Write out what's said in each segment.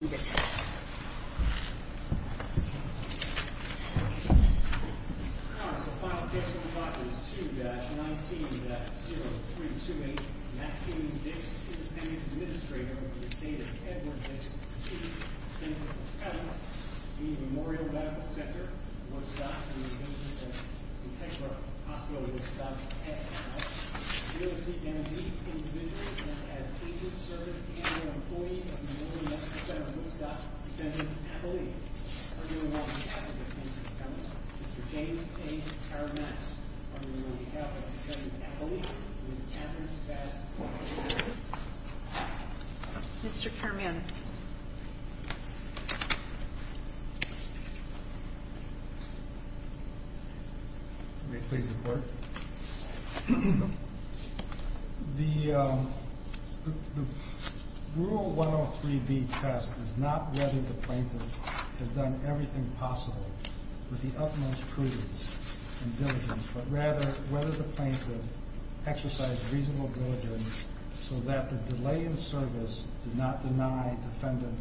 2-19-0328 Maxine Dicks, Independent Administrator of the Estate of Edward Dicks, C. D. P. P. Memorial Medical Center, Woodstock, University of Kentucky Hospital of Woodstock, F. L. James A. Kermance, On Behalf of President Eppley, Ms. Katherine Sass, F. L. The rule 103B test is not whether the plaintiff has done everything possible with the utmost prudence and diligence, but rather whether the plaintiff exercised reasonable diligence so that the delay in service did not deny defendant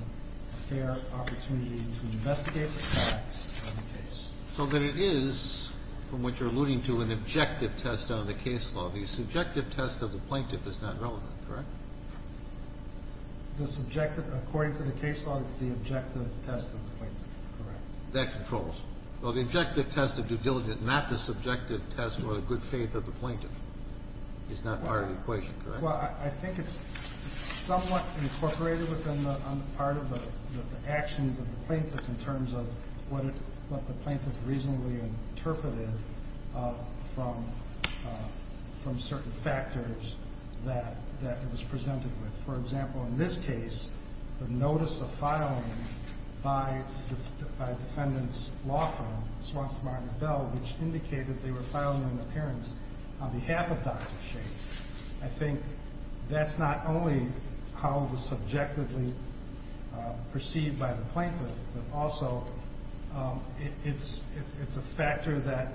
a fair opportunity to investigate the facts of the case. So that it is, from what you're alluding to, an objective test on the case law. The subjective test of the plaintiff is not relevant, correct? The subjective, according to the case law, it's the objective test of the plaintiff, correct. That controls. Well, the objective test of due diligence, not the subjective test or good faith of the plaintiff, is not part of the equation, correct? Well, I think it's somewhat incorporated within the part of the actions of the plaintiff in terms of what the plaintiff reasonably interpreted from certain factors that it was presented with. For example, in this case, the notice of filing by defendant's law firm, Swanson Barnett Bell, which indicated they were filing an appearance on behalf of Dr. Shakespeare. I think that's not only how it was subjectively perceived by the plaintiff, but also it's a factor that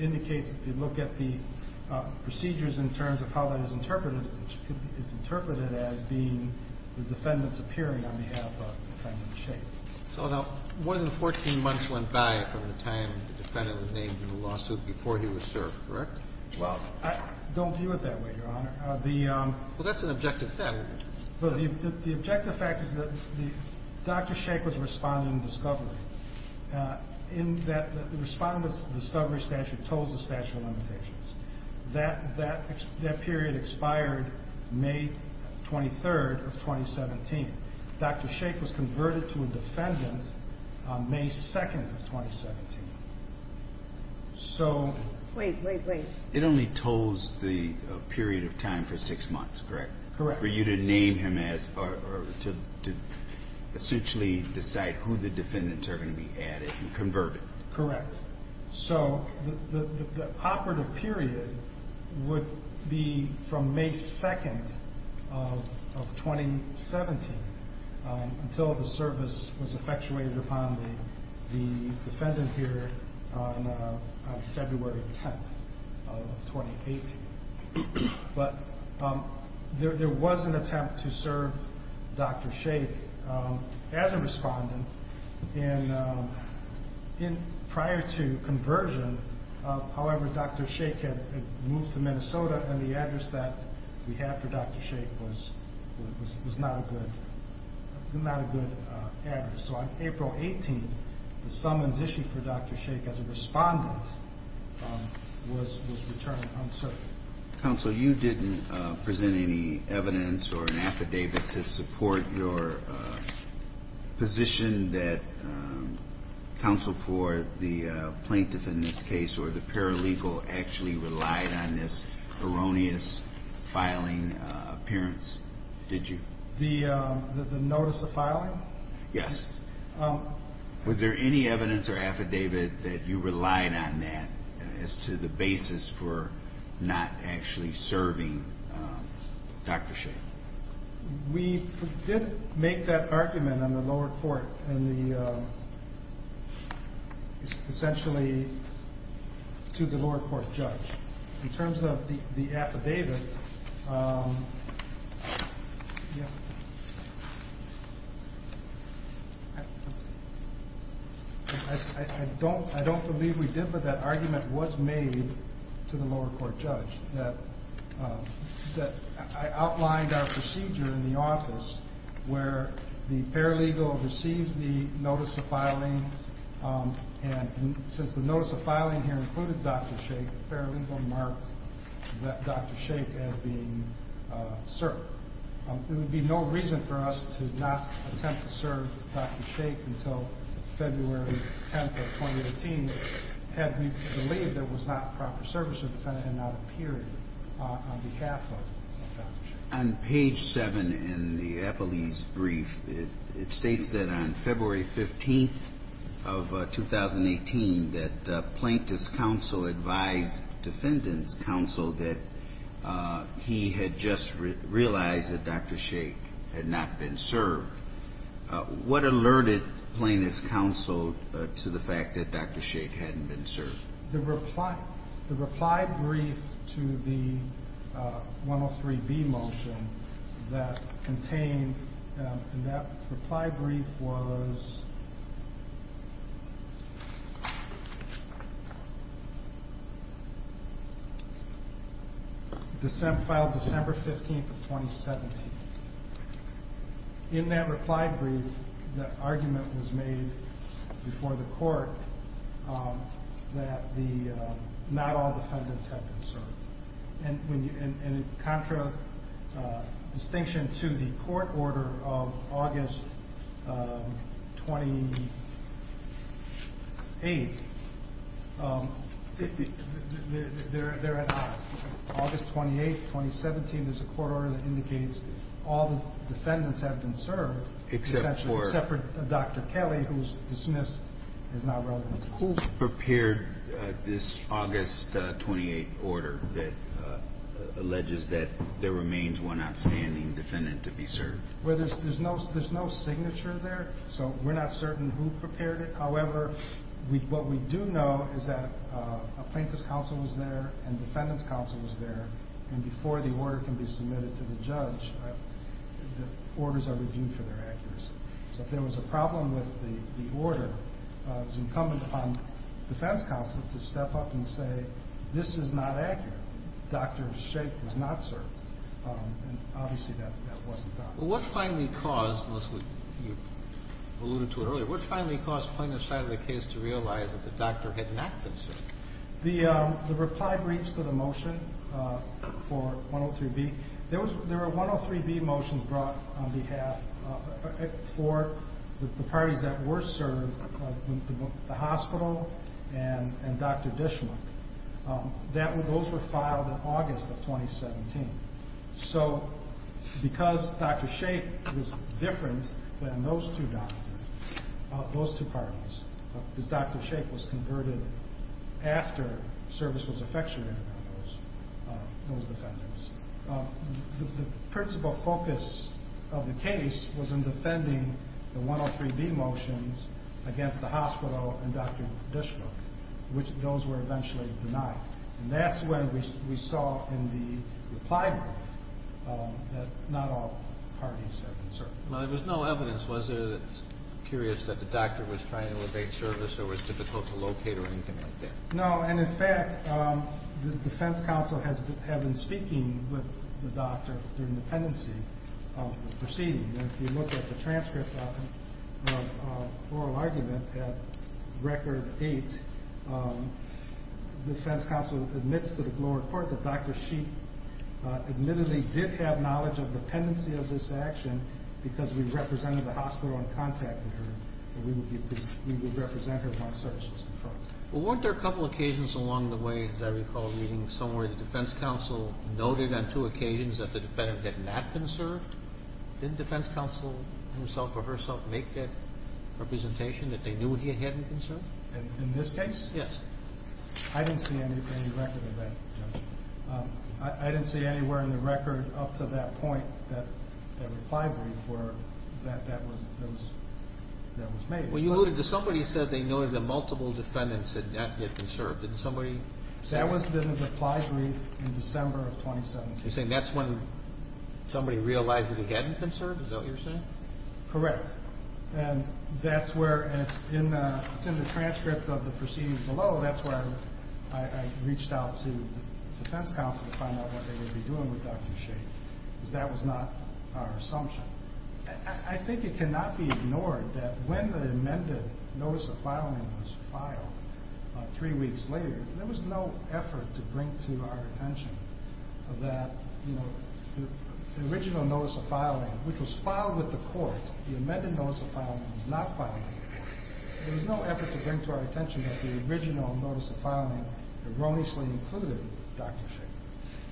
indicates if you look at the procedures in terms of how that is interpreted, it's interpreted as being the defendant's appearing on behalf of Dr. Shakespeare. So now more than 14 months went by from the time the defendant was named in the lawsuit before he was served, correct? Well, I don't view it that way, Your Honor. Well, that's an objective fact. The objective fact is that Dr. Shakespeare's respondent in discovery, in that the respondent's discovery statute told the statute of limitations. That period expired May 23rd of 2017. Dr. Shakespeare was converted to a defendant on May 2nd of 2017. Wait, wait, wait. It only told the period of time for six months, correct? Correct. For you to name him as or to essentially decide who the defendants are going to be added and converted. Correct. So the operative period would be from May 2nd of 2017 until the service was effectuated upon the defendant here on February 10th of 2018. But there was an attempt to serve Dr. Shakespeare as a respondent. And prior to conversion, however, Dr. Shakespeare had moved to Minnesota and the address that we have for Dr. Shakespeare was not a good address. So on April 18th, the summons issued for Dr. Shakespeare as a respondent was returned unsearched. Counsel, you didn't present any evidence or an affidavit to support your position that counsel for the plaintiff in this case or the paralegal actually relied on this erroneous filing appearance, did you? The notice of filing? Yes. Was there any evidence or affidavit that you relied on that as to the basis for not actually serving Dr. Shakespeare? We did make that argument on the lower court and essentially to the lower court judge. In terms of the affidavit, I don't believe we did but that argument was made to the lower court judge. I outlined our procedure in the office where the paralegal receives the notice of filing and since the notice of filing here included Dr. Shakespeare, the paralegal marked Dr. Shakespeare as being served. There would be no reason for us to not attempt to serve Dr. Shakespeare until February 10th of 2018 had we believed there was not proper service to the defendant and not a period on behalf of Dr. Shakespeare. When you realized that Dr. Shakespeare had not been served, what alerted plaintiff's counsel to the fact that Dr. Shakespeare had not been served? The reply brief to the 103B motion that contained that reply brief was filed December 15th of 2017. In that reply brief, the argument was made before the court that not all defendants had been served. In contra distinction to the court order of August 28th, August 28th, 2017 is a court order that indicates all defendants have been served except for Dr. Kelly who is dismissed and is not relevant. Who prepared this August 28th order that alleges that there remains one outstanding defendant to be served? There's no signature there so we're not certain who prepared it. However, what we do know is that a plaintiff's counsel was there and defendant's counsel was there and before the order can be submitted to the judge, the orders are reviewed for their accuracy. So if there was a problem with the order, it was incumbent upon defense counsel to step up and say this is not accurate. Dr. Shakespeare was not served and obviously that wasn't done. What finally caused, unless you alluded to it earlier, what finally caused plaintiff's side of the case to realize that the doctor had not been served? The reply briefs to the motion for 103B, there were 103B motions brought on behalf for the parties that were served, the hospital and Dr. Dishman. Those were filed in August of 2017. So because Dr. Shakespeare was different than those two doctors, those two parties, because Dr. Shakespeare was converted after service was effectuated on those defendants, the principal focus of the case was in defending the 103B motions against the hospital and Dr. Dishman, which those were eventually denied. And that's when we saw in the reply brief that not all parties had been served. Well, there was no evidence, was there, that's curious, that the doctor was trying to evade service or was difficult to locate or anything like that? No, and in fact, the defense counsel had been speaking with the doctor during the pendency proceeding. If you look at the transcript of oral argument at record eight, the defense counsel admits to the lower court that Dr. Sheik admittedly did have knowledge of the pendency of this action because we represented the hospital and contacted her and we would represent her once service was confirmed. Well, weren't there a couple occasions along the way, as I recall reading somewhere, the defense counsel noted on two occasions that the defendant had not been served? Didn't defense counsel himself or herself make that representation that they knew he hadn't been served? In this case? Yes. I didn't see any record of that, Judge. I didn't see anywhere in the record up to that point that a reply brief that was made. Well, you noted that somebody said they noted that multiple defendants had not yet been served. Didn't somebody say that? That was in the reply brief in December of 2017. You're saying that's when somebody realized that he hadn't been served, is that what you're saying? Correct. And that's where it's in the transcript of the proceedings below. That's where I reached out to the defense counsel to find out what they would be doing with Dr. Sheik because that was not our assumption. I think it cannot be ignored that when the amended notice of filing was filed three weeks later, there was no effort to bring to our attention that the original notice of filing, which was filed with the court, the amended notice of filing was not filed with the court. There was no effort to bring to our attention that the original notice of filing erroneously included Dr. Sheik.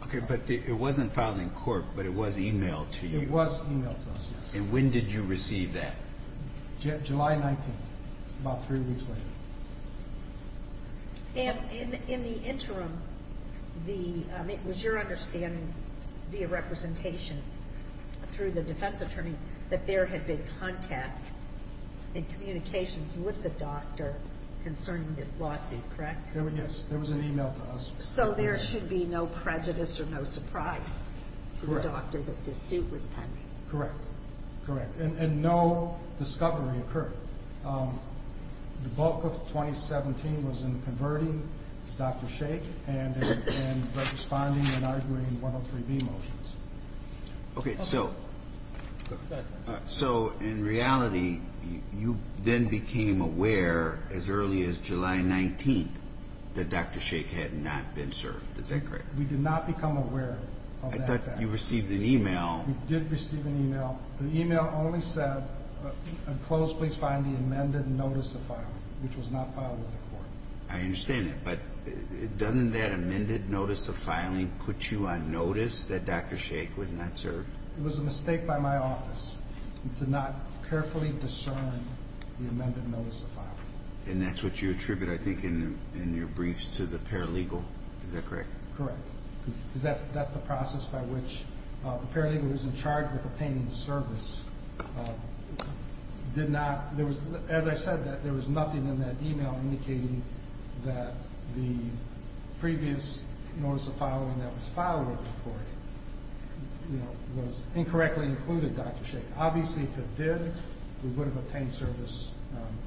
Okay, but it wasn't filed in court, but it was emailed to you. It was emailed to us, yes. And when did you receive that? July 19th, about three weeks later. And in the interim, it was your understanding via representation through the defense attorney that there had been contact and communications with the doctor concerning this lawsuit, correct? Yes, there was an email to us. So there should be no prejudice or no surprise to the doctor that this suit was pending. Correct, correct. And no discovery occurred. The bulk of 2017 was in converting Dr. Sheik and in responding and arguing 103B motions. Okay, so in reality, you then became aware as early as July 19th that Dr. Sheik had not been served. Is that correct? We did not become aware of that fact. I thought you received an email. We did receive an email. The email only said, in close, please find the amended notice of filing, which was not filed with the court. I understand that. But doesn't that amended notice of filing put you on notice that Dr. Sheik was not served? It was a mistake by my office to not carefully discern the amended notice of filing. And that's what you attribute, I think, in your briefs to the paralegal. Is that correct? Correct. Because that's the process by which the paralegal who was in charge of obtaining the service did not. As I said, there was nothing in that email indicating that the previous notice of filing that was filed with the court was incorrectly included Dr. Sheik. Obviously, if it did, we would have obtained service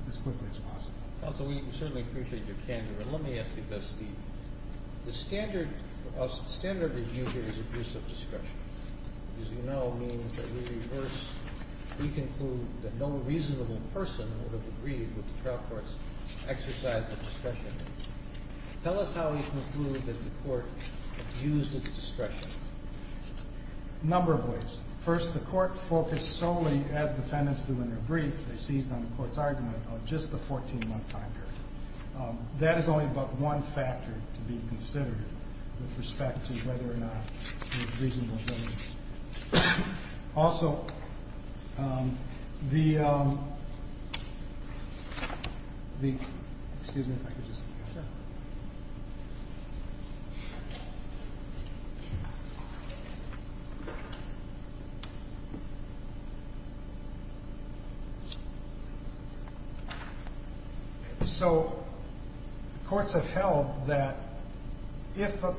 as quickly as possible. So we certainly appreciate your candor. And let me ask you this. The standard review here is abuse of discretion. As you know, it means that we reverse, we conclude that no reasonable person would have agreed with the trial court's exercise of discretion. Tell us how you conclude that the court abused its discretion. A number of ways. First, the court focused solely, as defendants do in their brief, they seized on the court's argument, on just the 14-month time period. That is only but one factor to be considered with respect to whether or not there was reasonable evidence. Also, the, excuse me if I could just. Sure. So courts have held that if a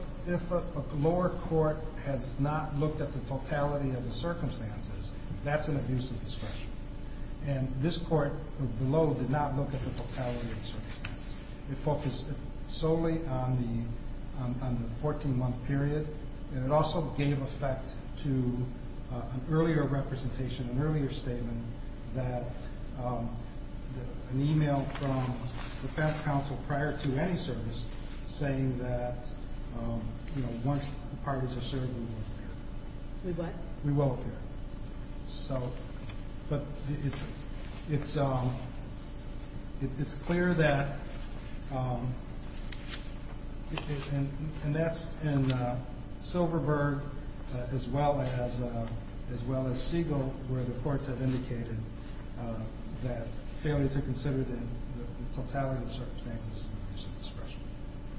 lower court has not looked at the totality of the circumstances, that's an abuse of discretion. And this court below did not look at the totality of the circumstances. It focused solely on the 14-month period. And it also gave effect to an earlier representation, an earlier statement, that an e-mail from defense counsel prior to any service saying that, you know, once the parties are served, we will appear. We what? We will appear. So, but it's clear that, and that's in Silverberg as well as Siegel where the courts have indicated that failure to consider the totality of the circumstances is an abuse of discretion.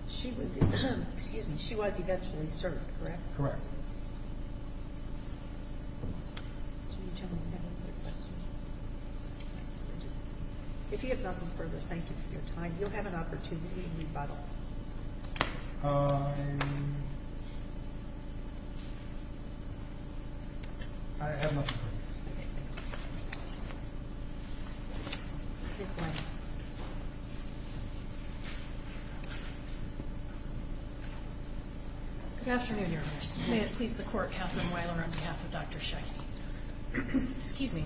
She was, excuse me, she was eventually served, correct? Correct. Do you have any other questions? If you have nothing further, thank you for your time. You'll have an opportunity to rebuttal. I have nothing further. Okay, thank you. This way. Good afternoon, Your Honors. May it please the Court, Katherine Weiler on behalf of Dr. Sheckney. Excuse me.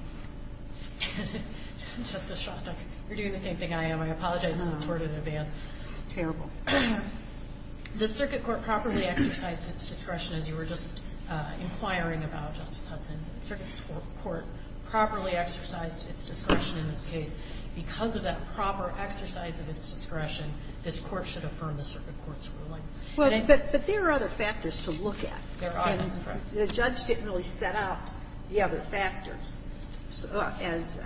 Justice Shostak, you're doing the same thing I am. I apologize to the Court in advance. Terrible. The Circuit Court properly exercised its discretion as you were just inquiring about, Justice Hudson. The Circuit Court properly exercised its discretion in this case. Because of that proper exercise of its discretion, this Court should affirm the Circuit Court's ruling. But there are other factors to look at. There are, that's correct. The judge didn't really set out the other factors as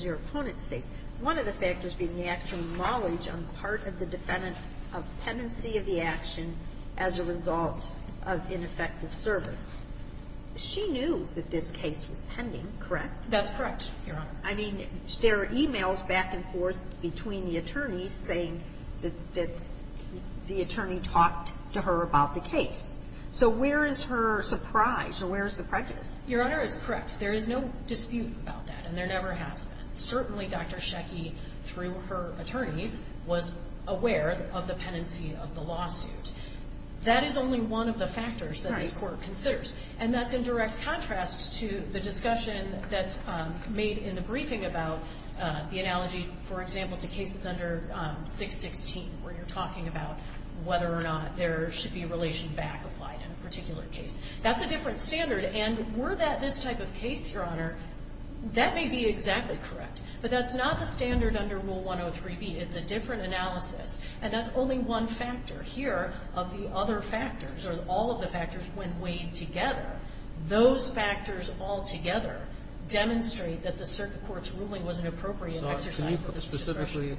your opponent states. One of the factors being the actual knowledge on the part of the defendant of pendency of the action as a result of ineffective service. She knew that this case was pending, correct? That's correct, Your Honor. I mean, there are e-mails back and forth between the attorneys saying that the attorney talked to her about the case. So where is her surprise or where is the prejudice? Your Honor is correct. There is no dispute about that and there never has been. Certainly, Dr. Schecke, through her attorneys, was aware of the pendency of the lawsuit. That is only one of the factors that this Court considers. And that's in direct contrast to the discussion that's made in the briefing about the analogy, for example, to cases under 616, where you're talking about whether or not there should be relation back applied in a particular case. That's a different standard. And were that this type of case, Your Honor, that may be exactly correct. But that's not the standard under Rule 103b. It's a different analysis. And that's only one factor. Here, of the other factors or all of the factors when weighed together, those factors altogether demonstrate that the circuit court's ruling was an appropriate exercise of its discretion. So can you specifically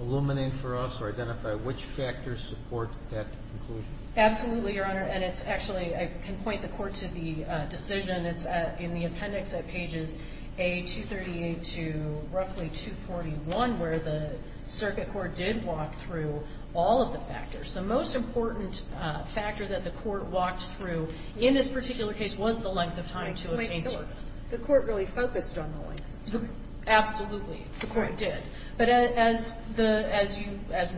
illuminate for us or identify which factors support that conclusion? Absolutely, Your Honor. And it's actually, I can point the Court to the decision. It's in the appendix at pages A238 to roughly 241, where the circuit court did walk through all of the factors. The most important factor that the Court walked through in this particular case was the length of time to obtain service. The Court really focused on the length of time. Absolutely. The Court did. But as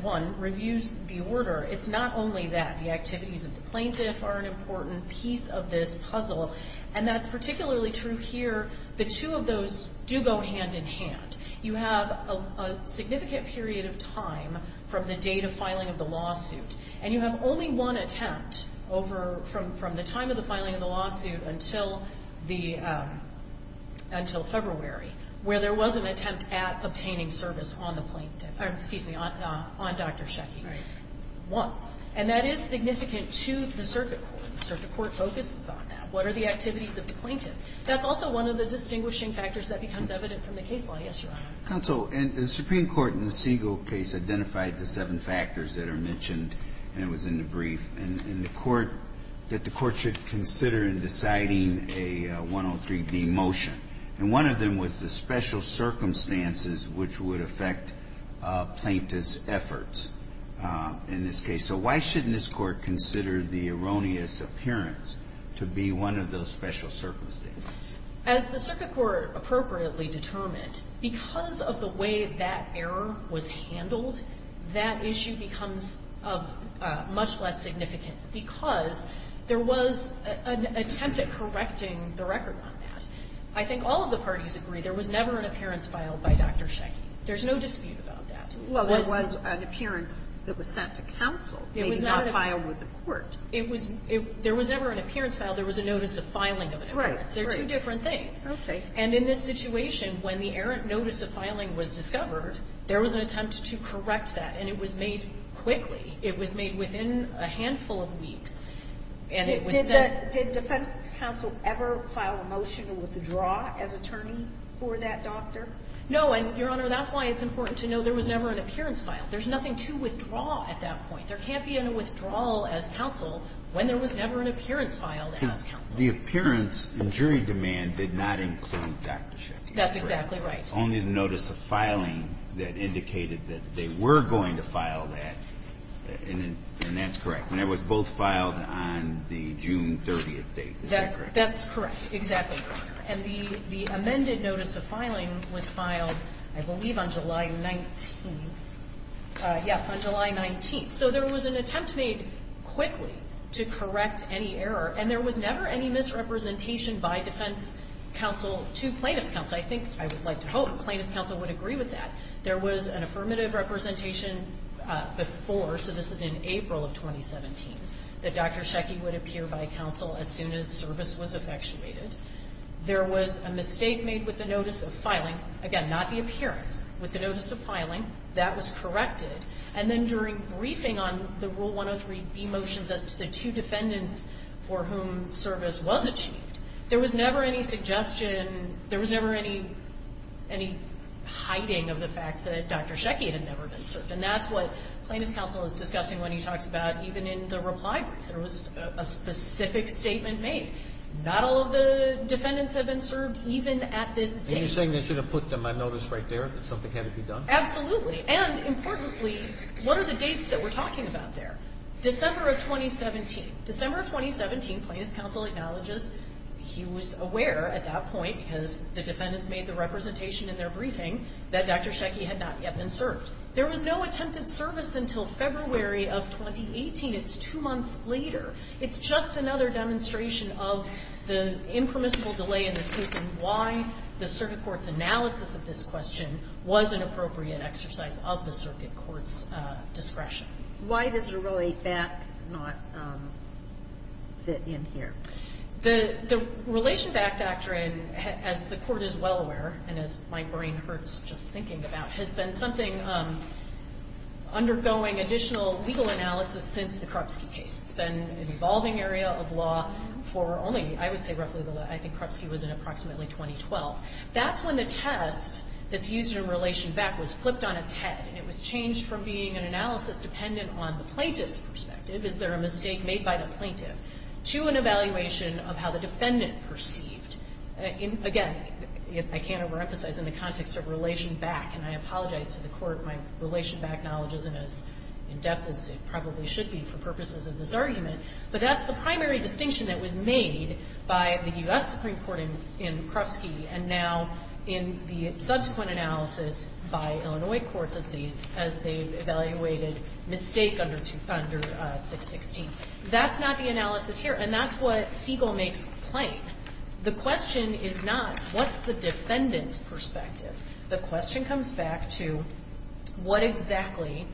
one reviews the order, it's not only that. The activities of the plaintiff are an important piece of this puzzle. And that's particularly true here. The two of those do go hand in hand. You have a significant period of time from the date of filing of the lawsuit, and you have only one attempt over from the time of the filing of the lawsuit until February, where there was an attempt at obtaining service on the plaintiff or, excuse me, on Dr. Schechke once. Right. And that is significant to the circuit court. The circuit court focuses on that. What are the activities of the plaintiff? That's also one of the distinguishing factors that becomes evident from the case law. Yes, Your Honor. Counsel, and the Supreme Court in the Siegel case identified the seven factors that are mentioned, and it was in the brief, in the court, that the Court should consider in deciding a 103B motion. And one of them was the special circumstances which would affect a plaintiff's efforts in this case. So why shouldn't this Court consider the erroneous appearance to be one of those special circumstances? As the circuit court appropriately determined, because of the way that error was handled, that issue becomes of much less significance because there was an attempt at correcting the record on that. I think all of the parties agree there was never an appearance filed by Dr. Schechke. There's no dispute about that. Well, there was an appearance that was sent to counsel. It was not filed with the court. It was not. There was never an appearance filed. There was a notice of filing of an appearance. Right, right. They're two different things. Okay. And in this situation, when the errant notice of filing was discovered, there was an attempt to correct that, and it was made quickly. It was made within a handful of weeks, and it was sent. Did defense counsel ever file a motion to withdraw as attorney for that doctor? No. And, Your Honor, that's why it's important to know there was never an appearance filed. There's nothing to withdraw at that point. There can't be a withdrawal as counsel when there was never an appearance filed as counsel. Because the appearance and jury demand did not include Dr. Schechke. That's exactly right. Only the notice of filing that indicated that they were going to file that, and that's correct. And it was both filed on the June 30th date. Is that correct? That's correct. Exactly. And the amended notice of filing was filed, I believe, on July 19th. Yes, on July 19th. So there was an attempt made quickly to correct any error, and there was never any misrepresentation by defense counsel to plaintiff's counsel. I think, I would like to hope, plaintiff's counsel would agree with that. There was an affirmative representation before. So this is in April of 2017, that Dr. Schechke would appear by counsel as soon as service was effectuated. There was a mistake made with the notice of filing. Again, not the appearance. With the notice of filing, that was corrected. And then during briefing on the Rule 103b motions as to the two defendants for whom service was achieved, there was never any suggestion, there was never any hiding of the fact that Dr. Schechke had never been served. And that's what plaintiff's counsel is discussing when he talks about even in the reply brief. There was a specific statement made. Not all of the defendants have been served, even at this date. And you're saying they should have put my notice right there, that something had to be done? Absolutely. And, importantly, what are the dates that we're talking about there? December of 2017. December of 2017, plaintiff's counsel acknowledges he was aware at that point, because the defendants made the representation in their briefing, that Dr. Schechke had not yet been served. There was no attempted service until February of 2018. It's two months later. It's just another demonstration of the impermissible delay in this case and why the circuit court's analysis of this question was an appropriate exercise of the circuit court's discretion. Why does a Relate Back not fit in here? The Relation Back doctrine, as the Court is well aware, and as my brain hurts just thinking about, has been something undergoing additional legal analysis since the Krupski case. It's been an evolving area of law for only, I would say, roughly the last year. I think Krupski was in approximately 2012. That's when the test that's used in Relation Back was flipped on its head, and it was changed from being an analysis dependent on the plaintiff's perspective, is there a mistake made by the plaintiff, to an evaluation of how the defendant perceived in, again, I can't overemphasize in the context of Relation Back, and I apologize to the Court, my Relation Back knowledge isn't as in-depth as it probably should be for purposes of this argument, but that's the primary distinction that was made by the U.S. Supreme Court in Krupski, and now in the subsequent analysis by Illinois courts of these, as they evaluated mistake under 616. That's not the analysis here, and that's what Siegel makes plain. The question is not what's the defendant's perspective. The question comes back to what exactly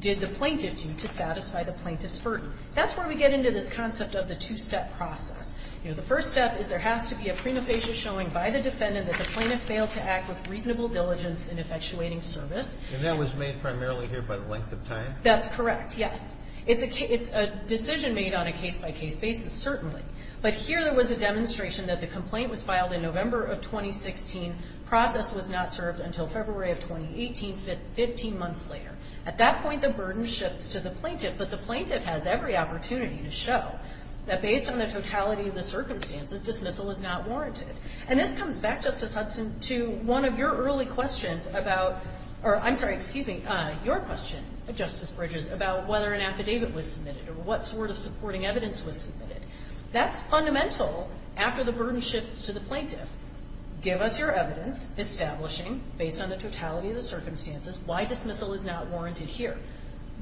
did the plaintiff do to satisfy the plaintiff's burden. That's where we get into this concept of the two-step process. You know, the first step is there has to be a prima facie showing by the defendant that the plaintiff failed to act with reasonable diligence in effectuating service. And that was made primarily here by the length of time? That's correct, yes. It's a decision made on a case-by-case basis, certainly. But here there was a demonstration that the complaint was filed in November of 2016, process was not served until February of 2018, 15 months later. At that point, the burden shifts to the plaintiff, but the plaintiff has every opportunity to show that based on the totality of the circumstances, dismissal is not warranted. And this comes back, Justice Hudson, to one of your early questions about or, I'm sorry, excuse me, your question, Justice Bridges, about whether an affidavit was submitted or what sort of supporting evidence was submitted. That's fundamental after the burden shifts to the plaintiff. Give us your evidence establishing, based on the totality of the circumstances, why dismissal is not warranted here.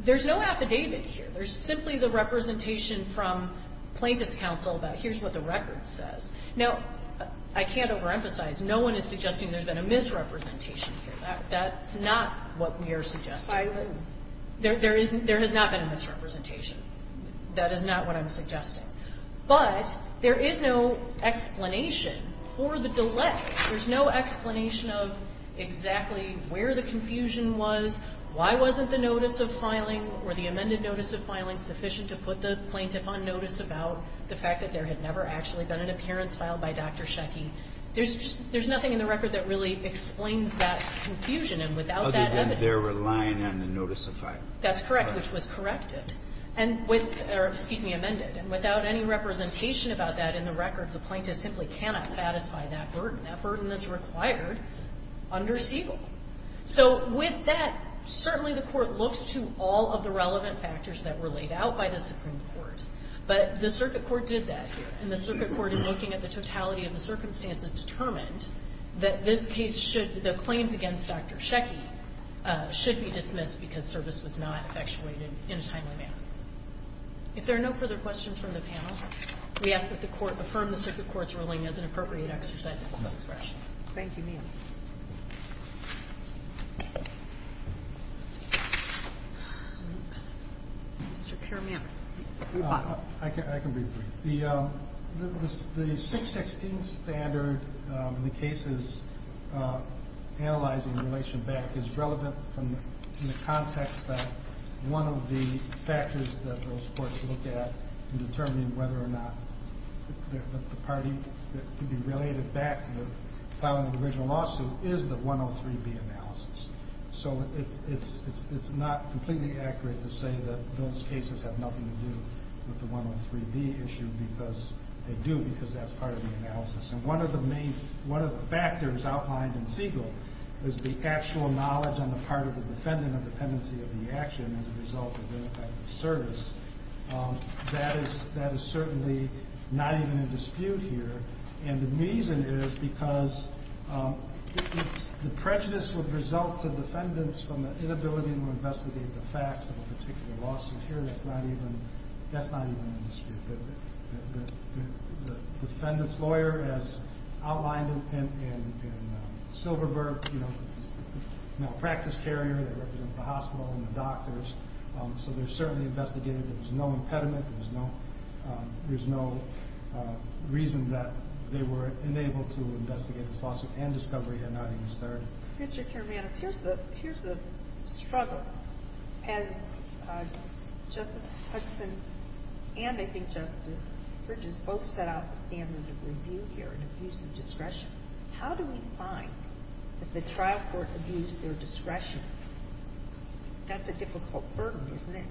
There's no affidavit here. There's simply the representation from Plaintiff's counsel that here's what the record says. Now, I can't overemphasize. No one is suggesting there's been a misrepresentation here. That's not what we are suggesting. There has not been a misrepresentation. That is not what I'm suggesting. But there is no explanation for the delay. There's no explanation of exactly where the confusion was, why wasn't the notice of filing or the amended notice of filing sufficient to put the plaintiff on notice about the fact that there had never actually been an appearance filed by Dr. Sheky. There's nothing in the record that really explains that confusion. And without that evidence Other than they're relying on the notice of filing. That's correct, which was corrected and with or, excuse me, amended. And without any representation about that in the record, the plaintiff simply cannot satisfy that burden, that burden that's required under Siegel. So with that, certainly the Court looks to all of the relevant factors that were laid out by the Supreme Court. But the Circuit Court did that here. And the Circuit Court, in looking at the totality of the circumstances, determined that this case should, the claims against Dr. Sheky should be dismissed because service was not effectuated in a timely manner. If there are no further questions from the panel, we ask that the Court affirm the Circuit Court's ruling as an appropriate exercise of its discretion. Thank you, ma'am. Mr. Karamans. I can be brief. The 616 standard in the cases analyzing the relation back is relevant from the context that one of the factors that those courts look at in determining whether or not the party could be related back to the filing of the original lawsuit is the 103B analysis. So it's not completely accurate to say that those cases have nothing to do with the 103B issue because they do, because that's part of the analysis. And one of the main factors outlined in Siegel is the actual knowledge on the part of the defendant of dependency of the action as a result of ineffective service. That is certainly not even in dispute here. And the reason is because the prejudice would result to defendants from the inability to investigate the facts of a particular lawsuit here. That's not even in dispute. The defendant's lawyer, as outlined in Silverberg, is a malpractice carrier that represents the hospital and the doctors. So they're certainly investigating. There's no impediment. There's no reason that they were unable to investigate this lawsuit and discovery had not even started. Mr. Kermanos, here's the struggle. As Justice Hudson and I think Justice Bridges both set out the standard of review here in abuse of discretion, how do we find that the trial court abused their discretion? That's a difficult burden, isn't it?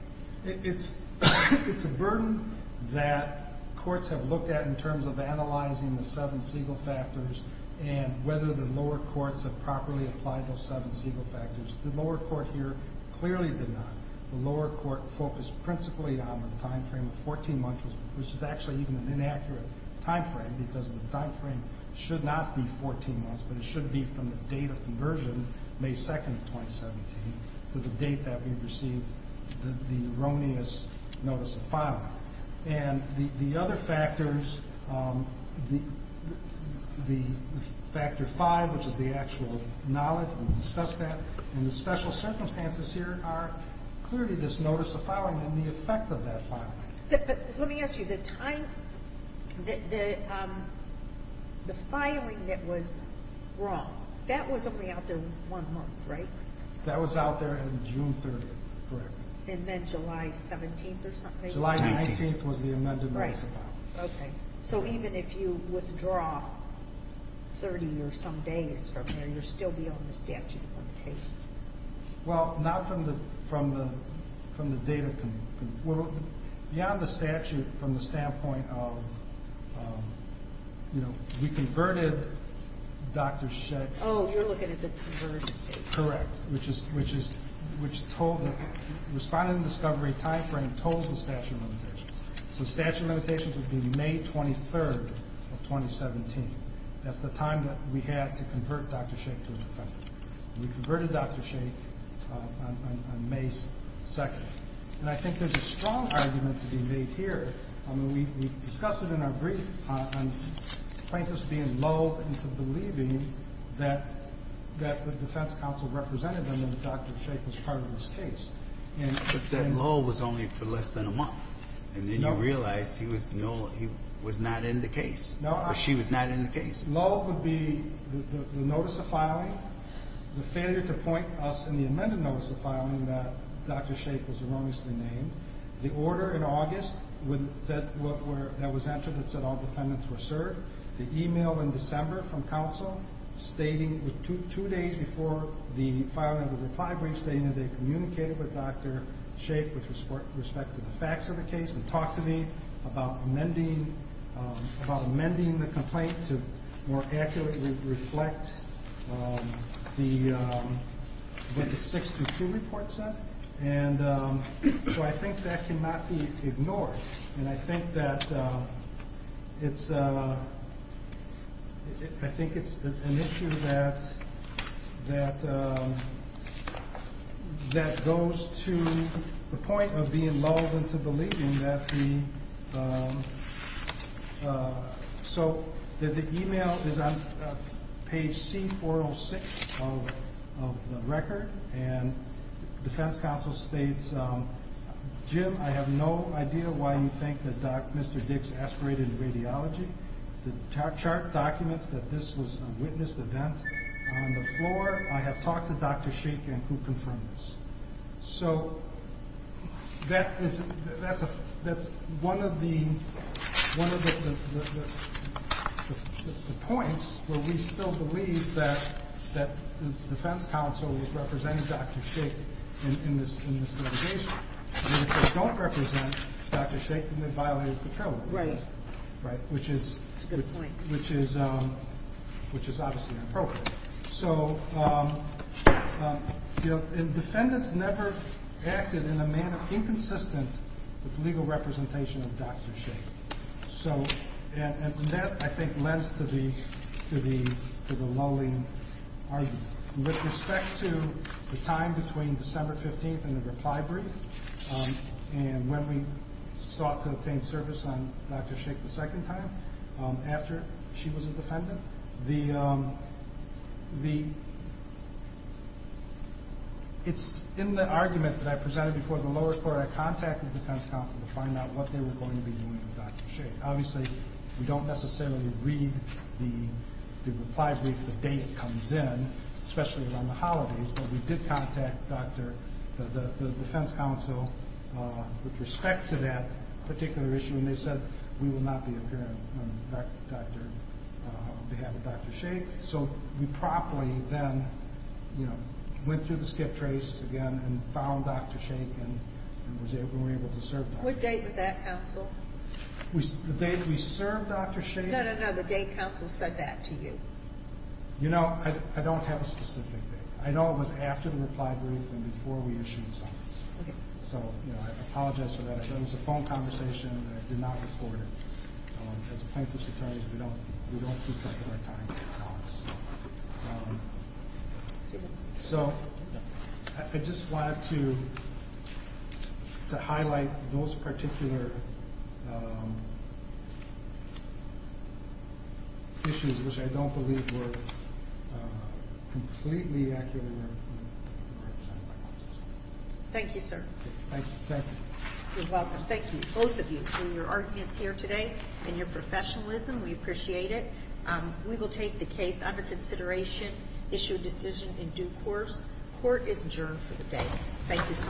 It's a burden that courts have looked at in terms of analyzing the seven Siegel factors and whether the lower courts have properly applied those seven Siegel factors. The lower court here clearly did not. The lower court focused principally on the time frame of 14 months, which is actually even an inaccurate time frame because the time frame should not be 14 months, but it should be from the date of conversion, May 2nd of 2017, to the date that we received the erroneous notice of filing. And the other factors, the factor five, which is the actual knowledge, we discussed that, and the special circumstances here are clearly this notice of filing and the effect of that filing. But let me ask you, the time, the filing that was wrong, that was only out there one month, right? That was out there on June 30th, correct. And then July 17th or something? July 19th was the amended notice of filing. Okay. So even if you withdraw 30 or some days from there, you're still beyond the statute limitation? Well, not from the data. Beyond the statute, from the standpoint of, you know, we converted Dr. Scheck. Oh, you're looking at the conversion date. Correct. Which is, which is, which told, responded in the discovery timeframe, told the statute limitations. So the statute limitations would be May 23rd of 2017. That's the time that we had to convert Dr. Scheck to an offender. We converted Dr. Scheck on May 2nd. And I think there's a strong argument to be made here. I mean, we discussed it in our brief on plaintiffs being lulled into believing that the defense counsel represented them and Dr. Scheck was part of this case. But that lull was only for less than a month. And then you realized he was not in the case. She was not in the case. Lull would be the notice of filing, the failure to point us in the amended notice of filing that Dr. Scheck was erroneously named, the order in August stating, two days before the filing of the reply brief, stating that they communicated with Dr. Scheck with respect to the facts of the case and talked to me about amending, about amending the complaint to more accurately reflect the 622 report set. And so I think that cannot be ignored. And I think that it's an issue that goes to the point of being lulled into believing that the email is on page C406 of the record. And defense counsel states, Jim, I have no idea why you think that Dr. Mr. Dix aspirated radiology. The chart documents that this was a witnessed event on the floor. I have talked to Dr. Scheck and could confirm this. So that's one of the points where we still believe that the defense counsel was representing Dr. Scheck in this litigation. And if they don't represent Dr. Scheck, then they violated the trail rules. Right. Right. That's a good point. Which is obviously inappropriate. So defendants never acted in a manner inconsistent with legal representation of Dr. Scheck. And that, I think, lends to the lulling argument. With respect to the time between December 15th and the reply brief, and when we sought to obtain service on Dr. Scheck the second time after she was a defendant, it's in the argument that I presented before the lower court I contacted defense counsel to find out what they were going to be doing with Dr. Scheck. Obviously, we don't necessarily read the reply brief the day it comes in. Especially around the holidays. But we did contact the defense counsel with respect to that particular issue, and they said we will not be appearing on behalf of Dr. Scheck. So we promptly then went through the skip trace again and found Dr. Scheck and were able to serve Dr. Scheck. What date was that, counsel? The date we served Dr. Scheck? No, no, no. The date counsel said that to you. You know, I don't have a specific date. I know it was after the reply brief and before we issued the summons. Okay. So, you know, I apologize for that. It was a phone conversation that I did not record. As plaintiffs' attorneys, we don't keep regular time in our talks. So I just wanted to highlight those particular issues, which I don't believe were completely accurate. Thank you, sir. Thank you. You're welcome. Thank you, both of you, for your arguments here today and your professionalism. We appreciate it. We will take the case under consideration, issue a decision in due course. Court is adjourned for the day. Thank you so much.